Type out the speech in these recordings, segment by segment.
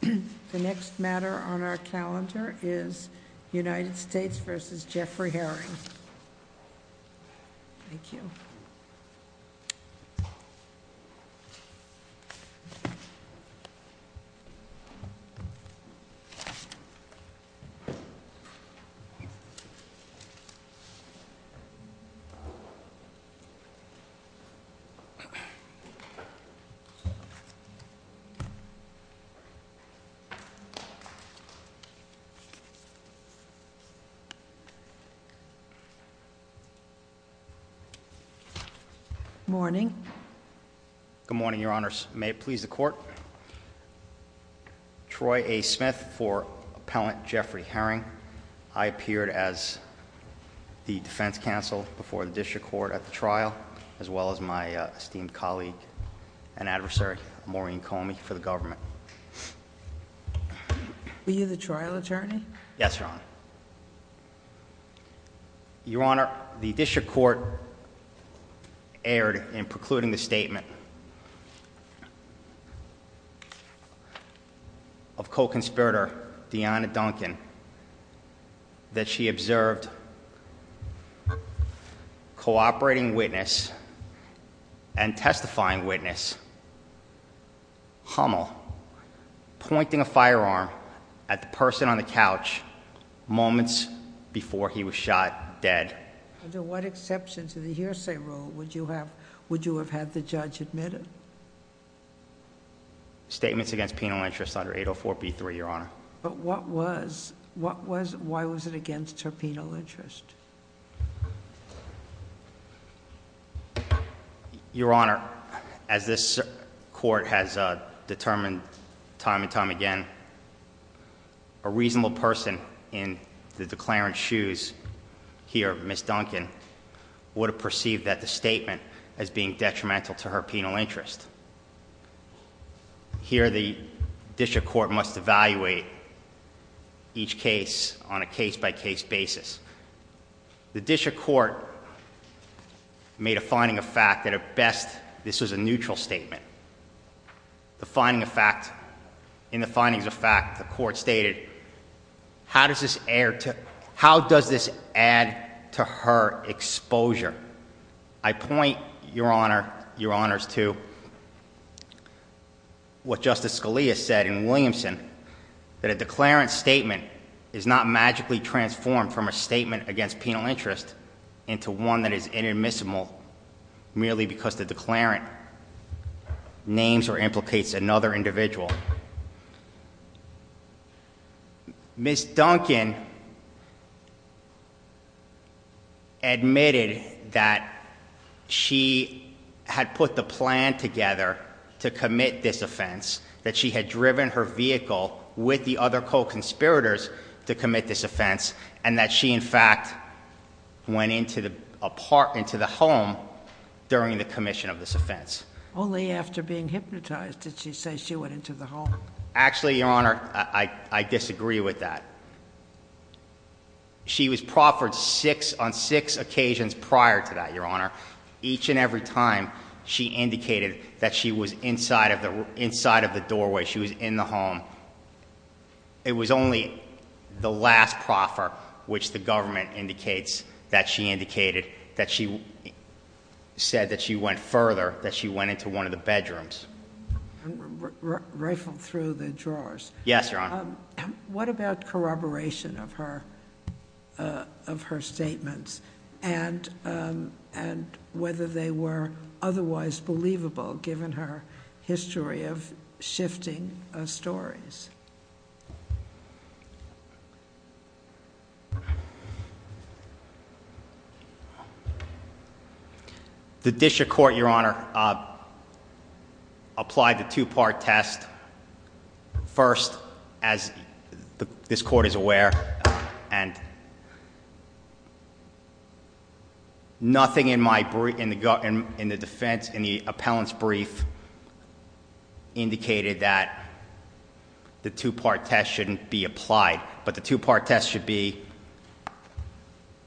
The next matter on our calendar is United States v. Jeffrey Herring. Thank you. Morning. Good morning, your honors. May it please the court. Troy A. Smith for Appellant Jeffrey Herring. I appeared as the defense counsel before the district court at the trial, as well as my esteemed colleague and adversary Maureen Comey for the government. Were you the trial attorney? Yes, your honor. Your honor, the district court erred in precluding the statement of co-conspirator Deanna Duncan that she observed cooperating witness and testifying witness, Hummel, pointing a firearm at the person on the couch moments before he was shot dead. Under what exceptions in the hearsay rule would you have had the judge admit it? Statements against penal interest under 804b3, your honor. But what was, why was it against her penal interest? Your honor, as this court has determined time and time again, a reasonable person in the declarant's shoes here, Miss Duncan, would have perceived that the statement as being detrimental to her penal interest. Here the district court must evaluate each case on a case by case basis. The district court made a finding of fact that at best, this was a neutral statement. The finding of fact, in the findings of fact, the court stated, how does this add to her exposure? I point, your honor, your honors to what Justice Scalia said in Williamson, that a declarant's statement is not magically transformed from a statement against penal interest into one that is inadmissible merely because the declarant names or implicates another individual. Miss Duncan admitted that she had put the plan together to commit this offense, that she had driven her vehicle with the other co-conspirators to commit this offense, and that she, in fact, went into the home during the commission of this offense. Only after being hypnotized did she say she went into the home. Actually, your honor, I disagree with that. She was proffered on six occasions prior to that, your honor. Each and every time she indicated that she was inside of the doorway, she was in the home, it was only the last proffer which the government indicates that she indicated, that she said that she went further, that she went into one of the bedrooms. Rifle through the drawers. Yes, your honor. What about corroboration of her statements? And whether they were otherwise believable, given her history of shifting stories? The Disher court, your honor, applied the two-part test. And nothing in the defense, in the appellant's brief, indicated that the two-part test shouldn't be applied, but the two-part test should be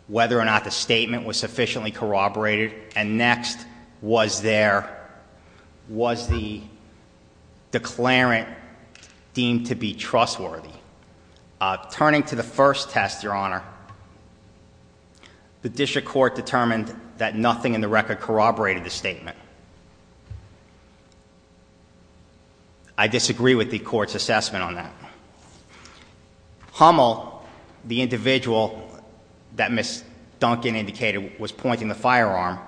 whether or not the statement was sufficiently corroborated. And next, was the declarant deemed to be trustworthy? Turning to the first test, your honor, the Disher court determined that nothing in the record corroborated the statement. I disagree with the court's assessment on that. Hummel, the individual that Ms. Duncan indicated was pointing the firearm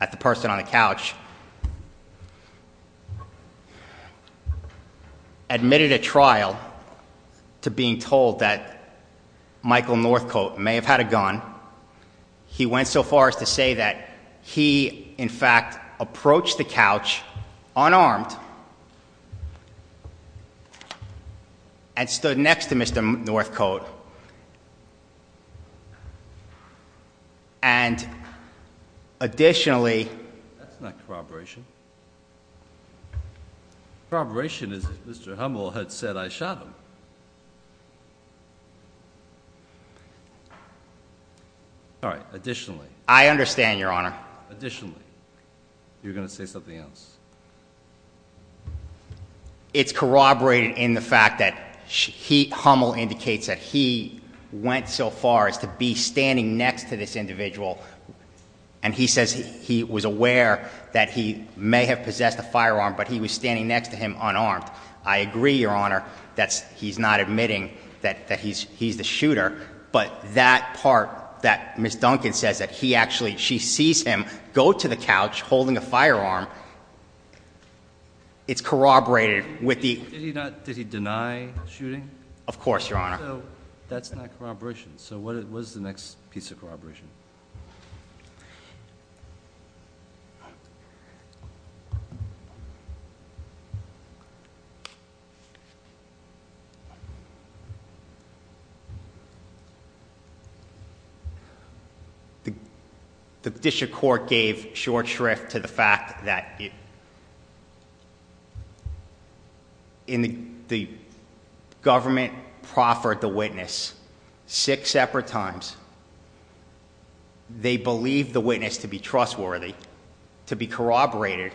at the person on the couch, admitted a trial to being told that Michael Northcote may have had a gun. He went so far as to say that he, in fact, approached the couch unarmed and stood next to Mr. Northcote. And additionally... That's not corroboration. Corroboration is that Mr. Hummel had said, I shot him. All right, additionally. I understand, your honor. Additionally. You were going to say something else. It's corroborated in the fact that Hummel indicates that he went so far as to be standing next to this individual and he says he was aware that he may have possessed a firearm, but he was standing next to him unarmed. I agree, your honor, that he's not admitting that he's the shooter, but that part that Ms. Duncan says that he actually, she sees him go to the couch holding a firearm, it's corroborated with the... Did he deny shooting? Of course, your honor. So that's not corroboration. So what is the next piece of corroboration? The district court gave short shrift to the fact that... The government proffered the witness six separate times. They believed the witness to be trustworthy, to be corroborated,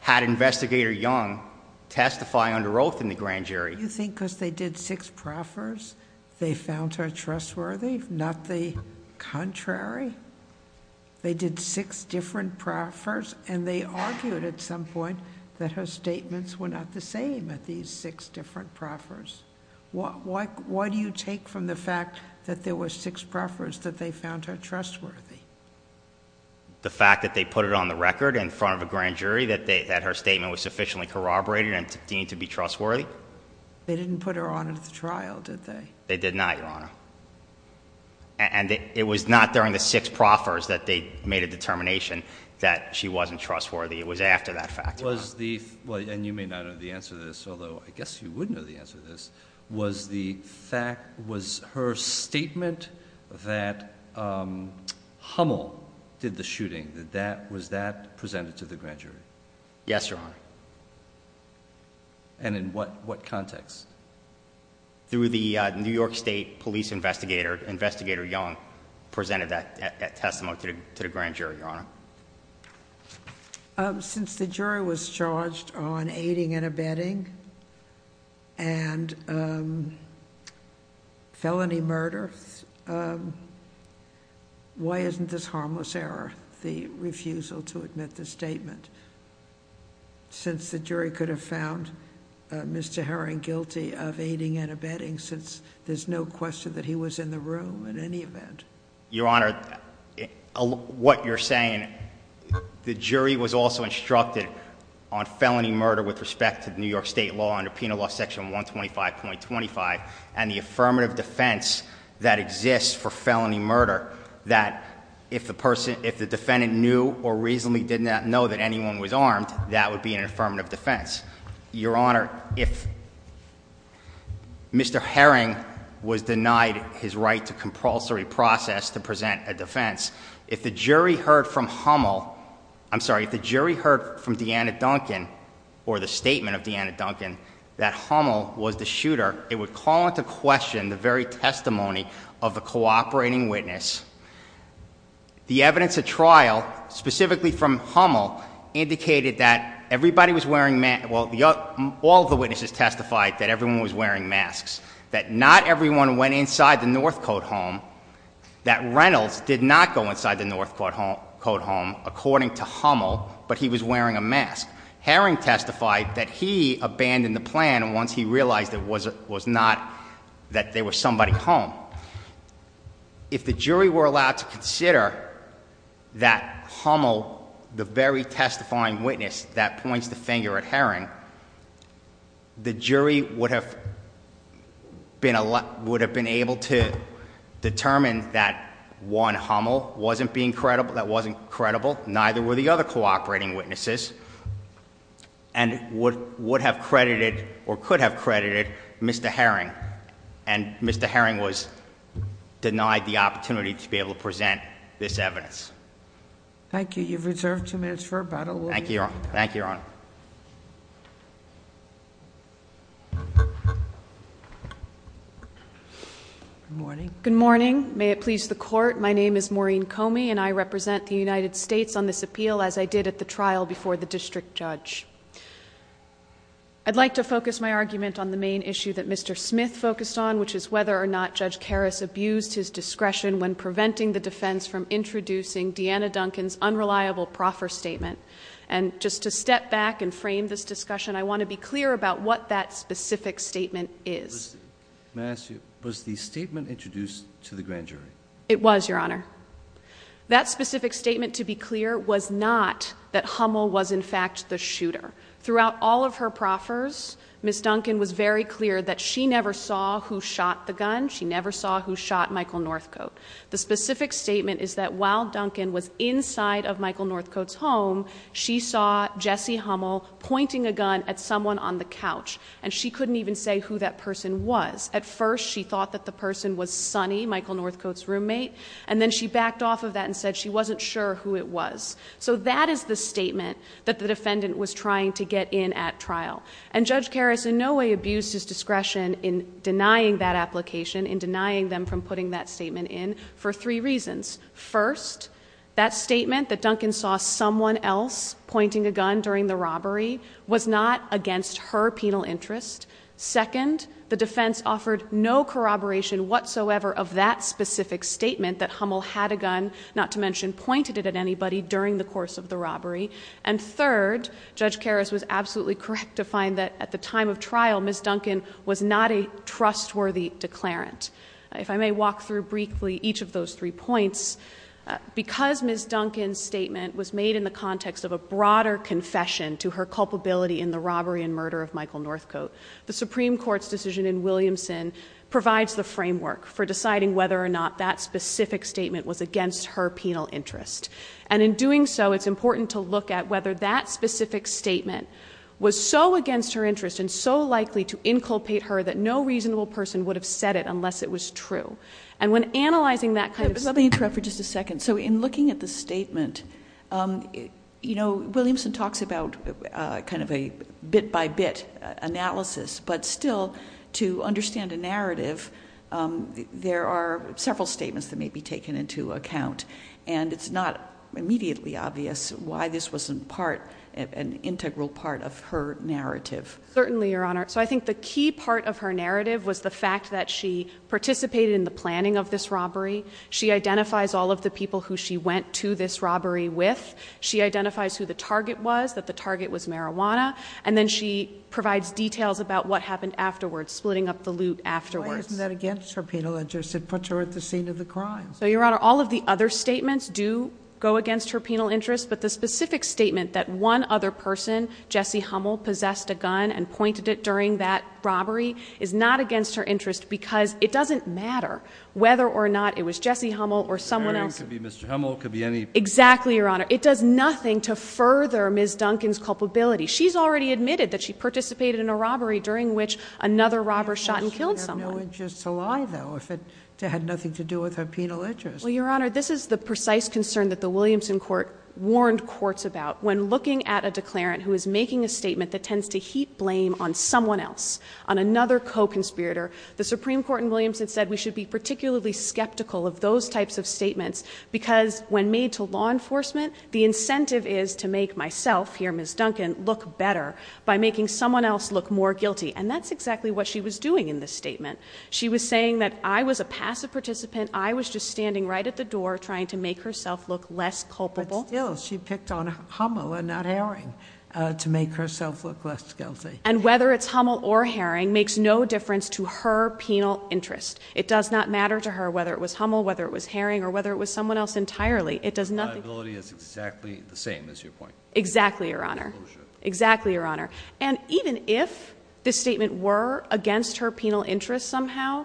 had investigator Young testify under oath in the grand jury. You think because they did six proffers they found her trustworthy, not the contrary? They did six different proffers and they argued at some point that her statements were not the same at these six different proffers. Why do you take from the fact that there were six proffers that they found her trustworthy? The fact that they put it on the record in front of a grand jury that her statement was sufficiently corroborated and deemed to be trustworthy? They didn't put her on at the trial, did they? They did not, your honor. And it was not during the six proffers that they made a determination that she wasn't trustworthy. It was after that fact. And you may not know the answer to this, although I guess you would know the answer to this, was her statement that Hummel did the shooting, was that presented to the grand jury? Yes, your honor. And in what context? Through the New York State police investigator. Since the jury was charged on aiding and abetting and felony murder, why isn't this harmless error the refusal to admit the statement? Since the jury could have found Mr. Herring guilty of aiding and abetting since there's no question that he was in the room in any event. Your honor, what you're saying, the jury was also instructed on felony murder with respect to New York State law under penal law section 125.25 and the affirmative defense that exists for felony murder that if the defendant knew or reasonably did not know that anyone was armed, that would be an affirmative defense. Your honor, if Mr. Herring was denied his right to compulsory process to present a defense, if the jury heard from Hummel, I'm sorry, if the jury heard from Deanna Duncan or the statement of Deanna Duncan that Hummel was the shooter, it would call into question the very testimony of the cooperating witness. The evidence at trial, specifically from Hummel, indicated that everybody was wearing, well, all the witnesses testified that everyone was wearing masks, that not everyone went inside the Northcote home, that Reynolds did not go inside the Northcote home, according to Hummel, but he was wearing a mask. Herring testified that he abandoned the plan once he realized that there was somebody home. If the jury were allowed to consider that Hummel, the very testifying witness that points the finger at Herring, the jury would have been able to determine that one, Hummel, wasn't being credible, that wasn't credible, neither were the other cooperating witnesses, and would have credited or could have credited Mr. Herring, and Mr. Herring was denied the opportunity to be able to present this evidence. Thank you. You've reserved two minutes for about a little while. Thank you, Your Honor. Good morning. Good morning. May it please the Court, my name is Maureen Comey, and I represent the United States on this appeal, as I did at the trial before the district judge. I'd like to focus my argument on the main issue that Mr. Smith focused on, which is whether or not Judge Karras abused his discretion when preventing the defense from introducing Deanna Duncan's unreliable proffer statement. And just to step back and frame this discussion, I want to be clear about what that specific statement is. May I ask you, was the statement introduced to the grand jury? It was, Your Honor. That specific statement, to be clear, was not that Hummel was in fact the shooter. Throughout all of her proffers, Ms. Duncan was very clear that she never saw who shot the gun, she never saw who shot Michael Northcote. The specific statement is that while Duncan was inside of Michael Northcote's home, she saw Jesse Hummel pointing a gun at someone on the couch, and she couldn't even say who that person was. At first, she thought that the person was Sonny, Michael Northcote's roommate, and then she backed off of that and said she wasn't sure who it was. So that is the statement that the defendant was trying to get in at trial. And Judge Karras in no way abused his discretion in denying that application, in denying them from putting that statement in, for three reasons. First, that statement that Duncan saw someone else pointing a gun during the robbery was not against her penal interest. Second, the defense offered no corroboration whatsoever of that specific statement that Hummel had a gun, not to mention pointed it at anybody, during the course of the robbery. And third, Judge Karras was absolutely correct to find that at the time of trial, Ms. Duncan was not a trustworthy declarant. If I may walk through briefly each of those three points, because Ms. Duncan's statement was made in the context of a broader confession to her culpability in the robbery and murder of Michael Northcote, the Supreme Court's decision in Williamson provides the framework for deciding whether or not that specific statement was against her penal interest. And in doing so, it's important to look at whether that specific statement was so against her interest and so likely to inculpate her that no reasonable person would have said it unless it was true. And when analyzing that kind of statement... Let me interrupt for just a second. So in looking at the statement, you know, Williamson talks about kind of a bit-by-bit analysis, but still, to understand a narrative, there are several statements that may be taken into account, and it's not immediately obvious why this wasn't part, an integral part of her narrative. Certainly, Your Honor. So I think the key part of her narrative was the fact that she participated in the planning of this robbery. She identifies all of the people who she went to this robbery with. She identifies who the target was, that the target was marijuana. And then she provides details about what happened afterwards, splitting up the loot afterwards. Why isn't that against her penal interest? It puts her at the scene of the crime. So, Your Honor, all of the other statements do go against her penal interest, but the specific statement that one other person, Jesse Hummel, possessed a gun and pointed it during that robbery, is not against her interest because it doesn't matter whether or not it was Jesse Hummel or someone else. The hearing could be Mr. Hummel, could be any person. Exactly, Your Honor. It does nothing to further Ms. Duncan's culpability. She's already admitted that she participated in a robbery during which another robber shot and killed someone. She would have no interest to lie, though, if it had nothing to do with her penal interest. Well, Your Honor, this is the precise concern that the Williamson court warned courts about. When looking at a declarant who is making a statement that tends to heat blame on someone else, on another co-conspirator, the Supreme Court in Williamson said we should be particularly skeptical of those types of statements because when made to law enforcement, the incentive is to make myself, here Ms. Duncan, look better by making someone else look more guilty. And that's exactly what she was doing in this statement. She was saying that I was a passive participant, I was just standing right at the door trying to make herself look less culpable. But still, she picked on Hummel and not Herring to make herself look less guilty. And whether it's Hummel or Herring makes no difference to her penal interest. It does not matter to her whether it was Hummel, whether it was Herring, or whether it was someone else entirely. Reliability is exactly the same, is your point? Exactly, Your Honor. Exactly, Your Honor. And even if this statement were against her penal interest somehow,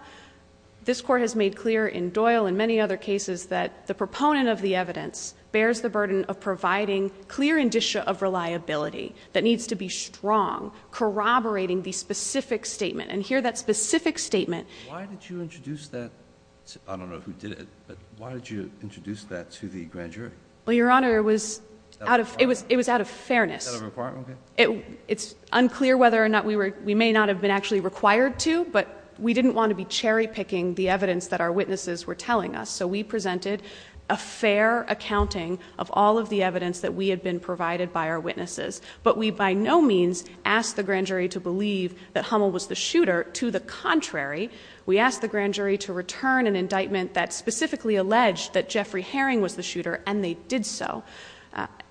this court has made clear in Doyle and many other cases that the proponent of the evidence bears the burden of providing a clear indicia of reliability that needs to be strong, corroborating the specific statement. And here that specific statement... Why did you introduce that? I don't know who did it, but why did you introduce that to the grand jury? Well, Your Honor, it was out of fairness. It's unclear whether or not we may not have been actually required to, but we didn't want to be cherry picking the evidence that our witnesses were telling us. So we presented a fair accounting of all of the evidence that we had been provided by our witnesses. But we by no means asked the grand jury to believe that Hummel was the shooter. To the contrary, we asked the grand jury to return an indictment that specifically alleged that Jeffrey Herring was the shooter, and they did so.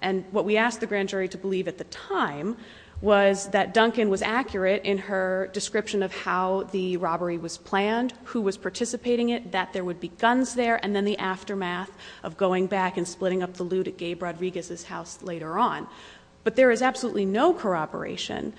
And what we asked the grand jury to believe at the time was that Duncan was accurate in her description of how the robbery was planned, who was participating in it, that there would be guns there, and then the aftermath of going back and splitting up the loot at Gabe Rodriguez's house later on. But there is absolutely no corroboration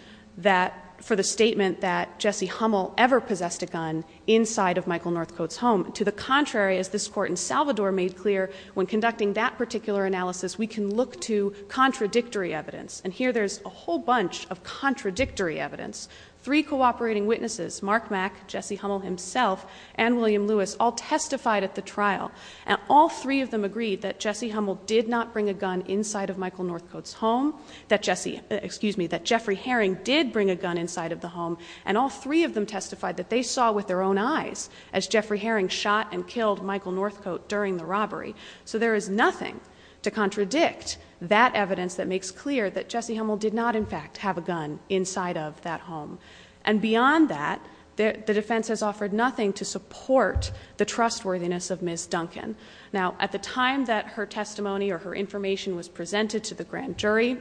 for the statement that Jesse Hummel ever possessed a gun inside of Michael Northcote's home. To the contrary, as this Court in Salvador made clear, when conducting that particular analysis, we can look to contradictory evidence. And here there's a whole bunch of contradictory evidence. Three cooperating witnesses, Mark Mack, Jesse Hummel himself, and William Lewis, all testified at the trial, and all three of them agreed that Jesse Hummel did not bring a gun inside of Michael Northcote's home, that Jeffrey Herring did bring a gun inside of the home, and all three of them testified that they saw with their own eyes as Jeffrey Herring shot and killed Michael Northcote during the robbery. So there is nothing to contradict that evidence that makes clear that Jesse Hummel did not, in fact, have a gun inside of that home. And beyond that, the defense has offered nothing to support the trustworthiness of Ms. Duncan. Now, at the time that her testimony or her information was presented to the grand jury,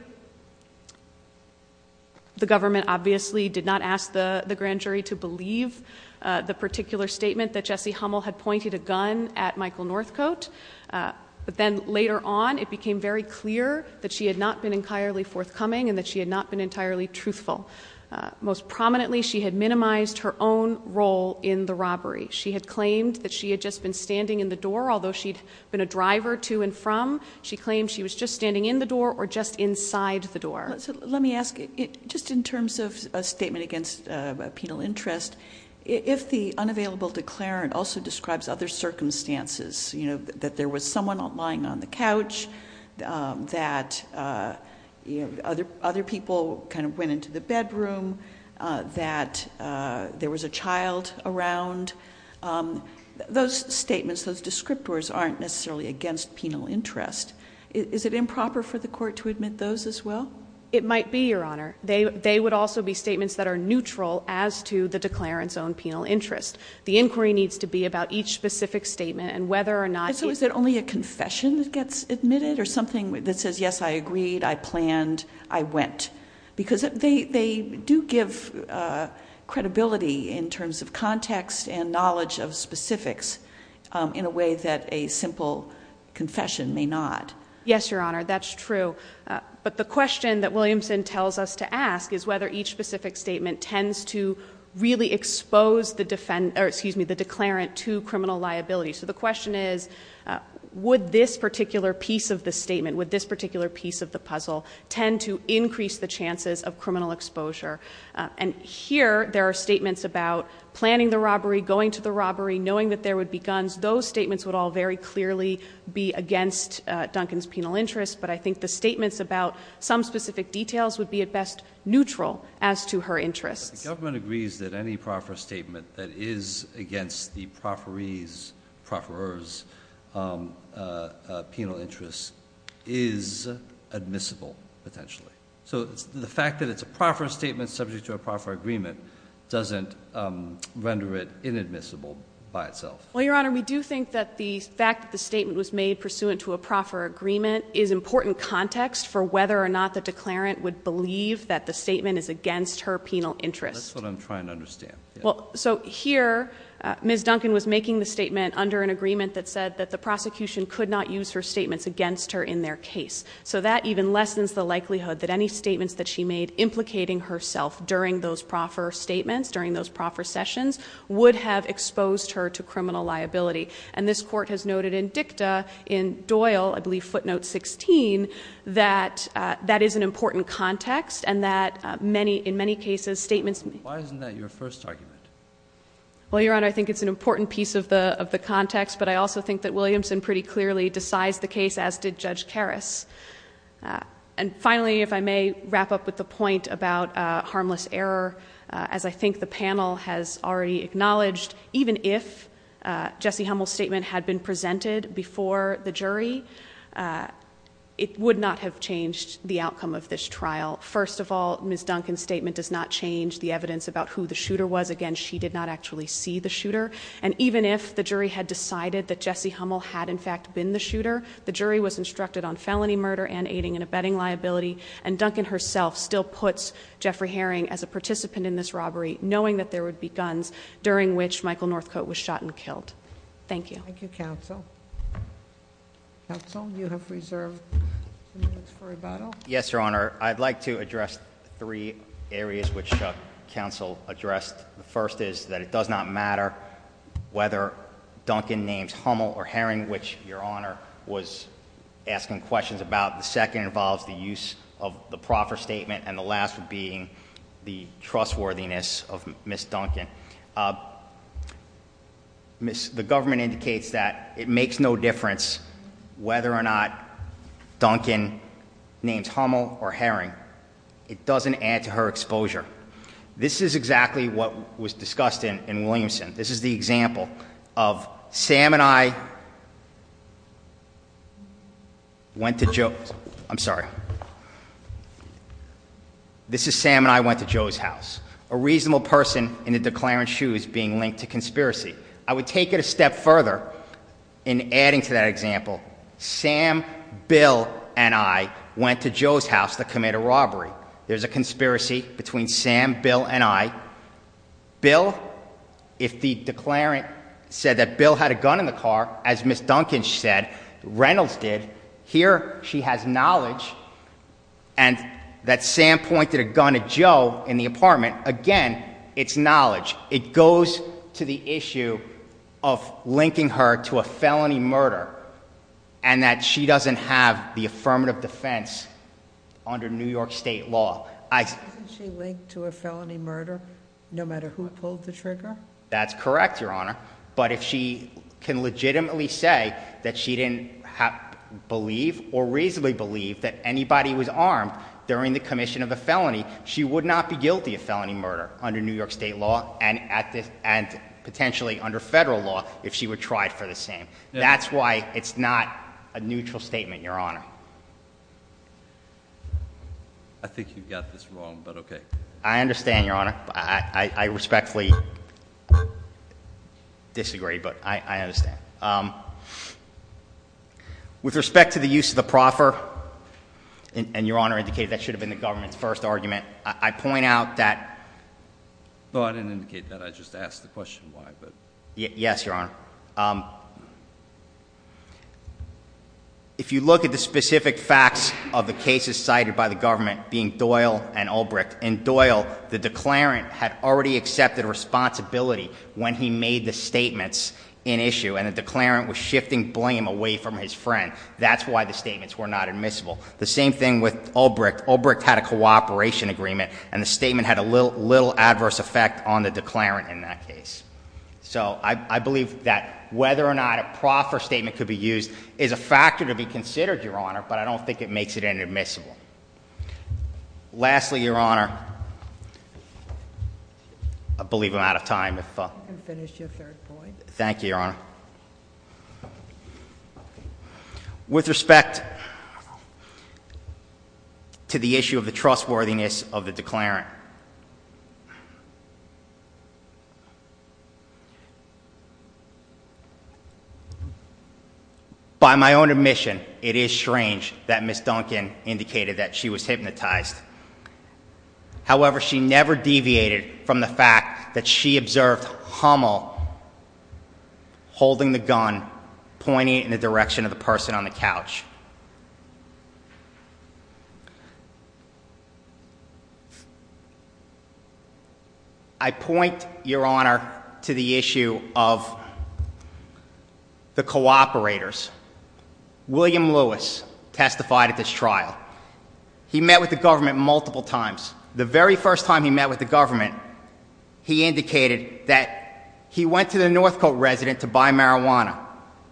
the government obviously did not ask the grand jury to believe the particular statement that Jesse Hummel had pointed a gun at Michael Northcote. But then later on, it became very clear that she had not been entirely forthcoming and that she had not been entirely truthful. Most prominently, she had minimized her own role in the robbery. She had claimed that she had just been standing in the door, although she had been a driver to and from. She claimed she was just standing in the door or just inside the door. Let me ask, just in terms of a statement against a penal interest, if the unavailable declarant also describes other circumstances, that there was someone lying on the couch, that other people kind of went into the bedroom, that there was a child around, those statements, those descriptors aren't necessarily against penal interest. Is it improper for the court to admit those as well? It might be, Your Honor. They would also be statements that are neutral as to the declarant's own penal interest. The inquiry needs to be about each specific statement and whether or not he – So is it only a confession that gets admitted or something that says, yes, I agreed, I planned, I went? Because they do give credibility in terms of context and knowledge of specifics in a way that a simple confession may not. Yes, Your Honor, that's true. But the question that Williamson tells us to ask is whether each specific statement tends to really expose the declarant to criminal liability. So the question is, would this particular piece of the statement, would this particular piece of the puzzle, tend to increase the chances of criminal exposure? And here there are statements about planning the robbery, going to the robbery, knowing that there would be guns. Those statements would all very clearly be against Duncan's penal interest, but I think the statements about some specific details would be at best neutral as to her interests. But the government agrees that any proffer statement that is against the profferee's, profferer's penal interest is admissible, potentially. So the fact that it's a proffer statement subject to a proffer agreement doesn't render it inadmissible by itself. Well, Your Honor, we do think that the fact that the statement was made pursuant to a proffer agreement is important context for whether or not the declarant would believe that the statement is against her penal interest. That's what I'm trying to understand. So here Ms. Duncan was making the statement under an agreement that said that the prosecution could not use her statements against her in their case. So that even lessens the likelihood that any statements that she made implicating herself during those proffer statements, during those proffer sessions, would have exposed her to criminal liability. And this court has noted in dicta in Doyle, I believe footnote 16, that that is an important context and that in many cases statements... Why isn't that your first argument? Well, Your Honor, I think it's an important piece of the context, but I also think that Williamson pretty clearly decides the case, as did Judge Karras. And finally, if I may wrap up with the point about harmless error, as I think the panel has already acknowledged, even if Jesse Hummel's statement had been presented before the jury, it would not have changed the outcome of this trial. First of all, Ms. Duncan's statement does not change the evidence about who the shooter was. Again, she did not actually see the shooter. And even if the jury had decided that Jesse Hummel had in fact been the shooter, the jury was instructed on felony murder and aiding and abetting liability, and Duncan herself still puts Jeffrey Herring as a participant in this robbery, knowing that there would be guns, during which Michael Northcote was shot and killed. Thank you. Thank you, counsel. Counsel, you have reserved a few minutes for rebuttal. Yes, Your Honor. I'd like to address three areas which counsel addressed. The first is that it does not matter whether Duncan names Hummel or Herring, which Your Honor was asking questions about. The second involves the use of the proffer statement. And the last would be the trustworthiness of Ms. Duncan. The government indicates that it makes no difference whether or not Duncan names Hummel or Herring, it doesn't add to her exposure. This is exactly what was discussed in Williamson. This is the example of Sam and I went to Joe's. I'm sorry. This is Sam and I went to Joe's house. A reasonable person in a declarant shoe is being linked to conspiracy. I would take it a step further in adding to that example. Sam, Bill, and I went to Joe's house to commit a robbery. There's a conspiracy between Sam, Bill, and I. Bill, if the declarant said that Bill had a gun in the car, as Ms. Duncan said, Reynolds did, here she has knowledge and that Sam pointed a gun at Joe in the apartment. Again, it's knowledge. It goes to the issue of linking her to a felony murder and that she doesn't have the affirmative defense under New York State law. Isn't she linked to a felony murder no matter who pulled the trigger? That's correct, Your Honor. But if she can legitimately say that she didn't believe or reasonably believe that anybody was armed during the commission of a felony, she would not be guilty of felony murder under New York State law and potentially under federal law if she would try it for the same. That's why it's not a neutral statement, Your Honor. I think you got this wrong, but okay. I understand, Your Honor. I respectfully disagree, but I understand. With respect to the use of the proffer, and Your Honor indicated that should have been the government's first argument, I point out that- No, I didn't indicate that. I just asked the question why, but- Yes, Your Honor. If you look at the specific facts of the cases cited by the government being Doyle and Ulbricht, in Doyle, the declarant had already accepted responsibility when he made the statements in issue, and the declarant was shifting blame away from his friend. That's why the statements were not admissible. The same thing with Ulbricht. Ulbricht had a cooperation agreement, and the statement had a little adverse effect on the declarant in that case. So I believe that whether or not a proffer statement could be used is a factor to be considered, Your Honor, but I don't think it makes it inadmissible. Lastly, Your Honor, I believe I'm out of time. You can finish your third point. Thank you, Your Honor. With respect to the issue of the trustworthiness of the declarant, by my own admission, it is strange that Ms. Duncan indicated that she was hypnotized. However, she never deviated from the fact that she observed Hummel holding the gun, pointing it in the direction of the person on the couch. I point, Your Honor, to the issue of the cooperators. William Lewis testified at this trial. He met with the government multiple times. The very first time he met with the government, he indicated that he went to the Northcote resident to buy marijuana.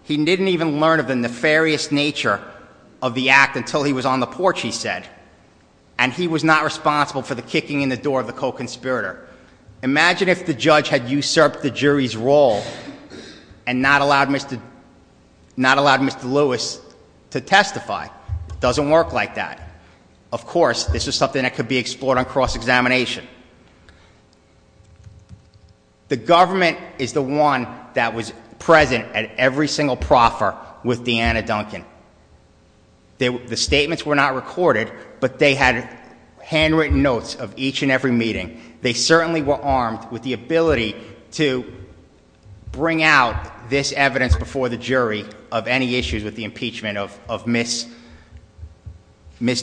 He didn't even learn of the nefarious nature of the act until he was on the porch, he said, and he was not responsible for the kicking in the door of the co-conspirator. Imagine if the judge had usurped the jury's role and not allowed Mr. Lewis to testify. It doesn't work like that. Of course, this is something that could be explored on cross-examination. The government is the one that was present at every single proffer with Deanna Duncan. The statements were not recorded, but they had handwritten notes of each and every meeting. They certainly were armed with the ability to bring out this evidence before the jury of any issues with the impeachment of Ms.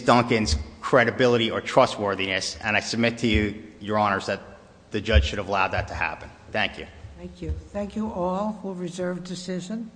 Duncan's credibility or trustworthiness. And I submit to you, your honors, that the judge should have allowed that to happen. Thank you. Thank you. Thank you all who reserved decision.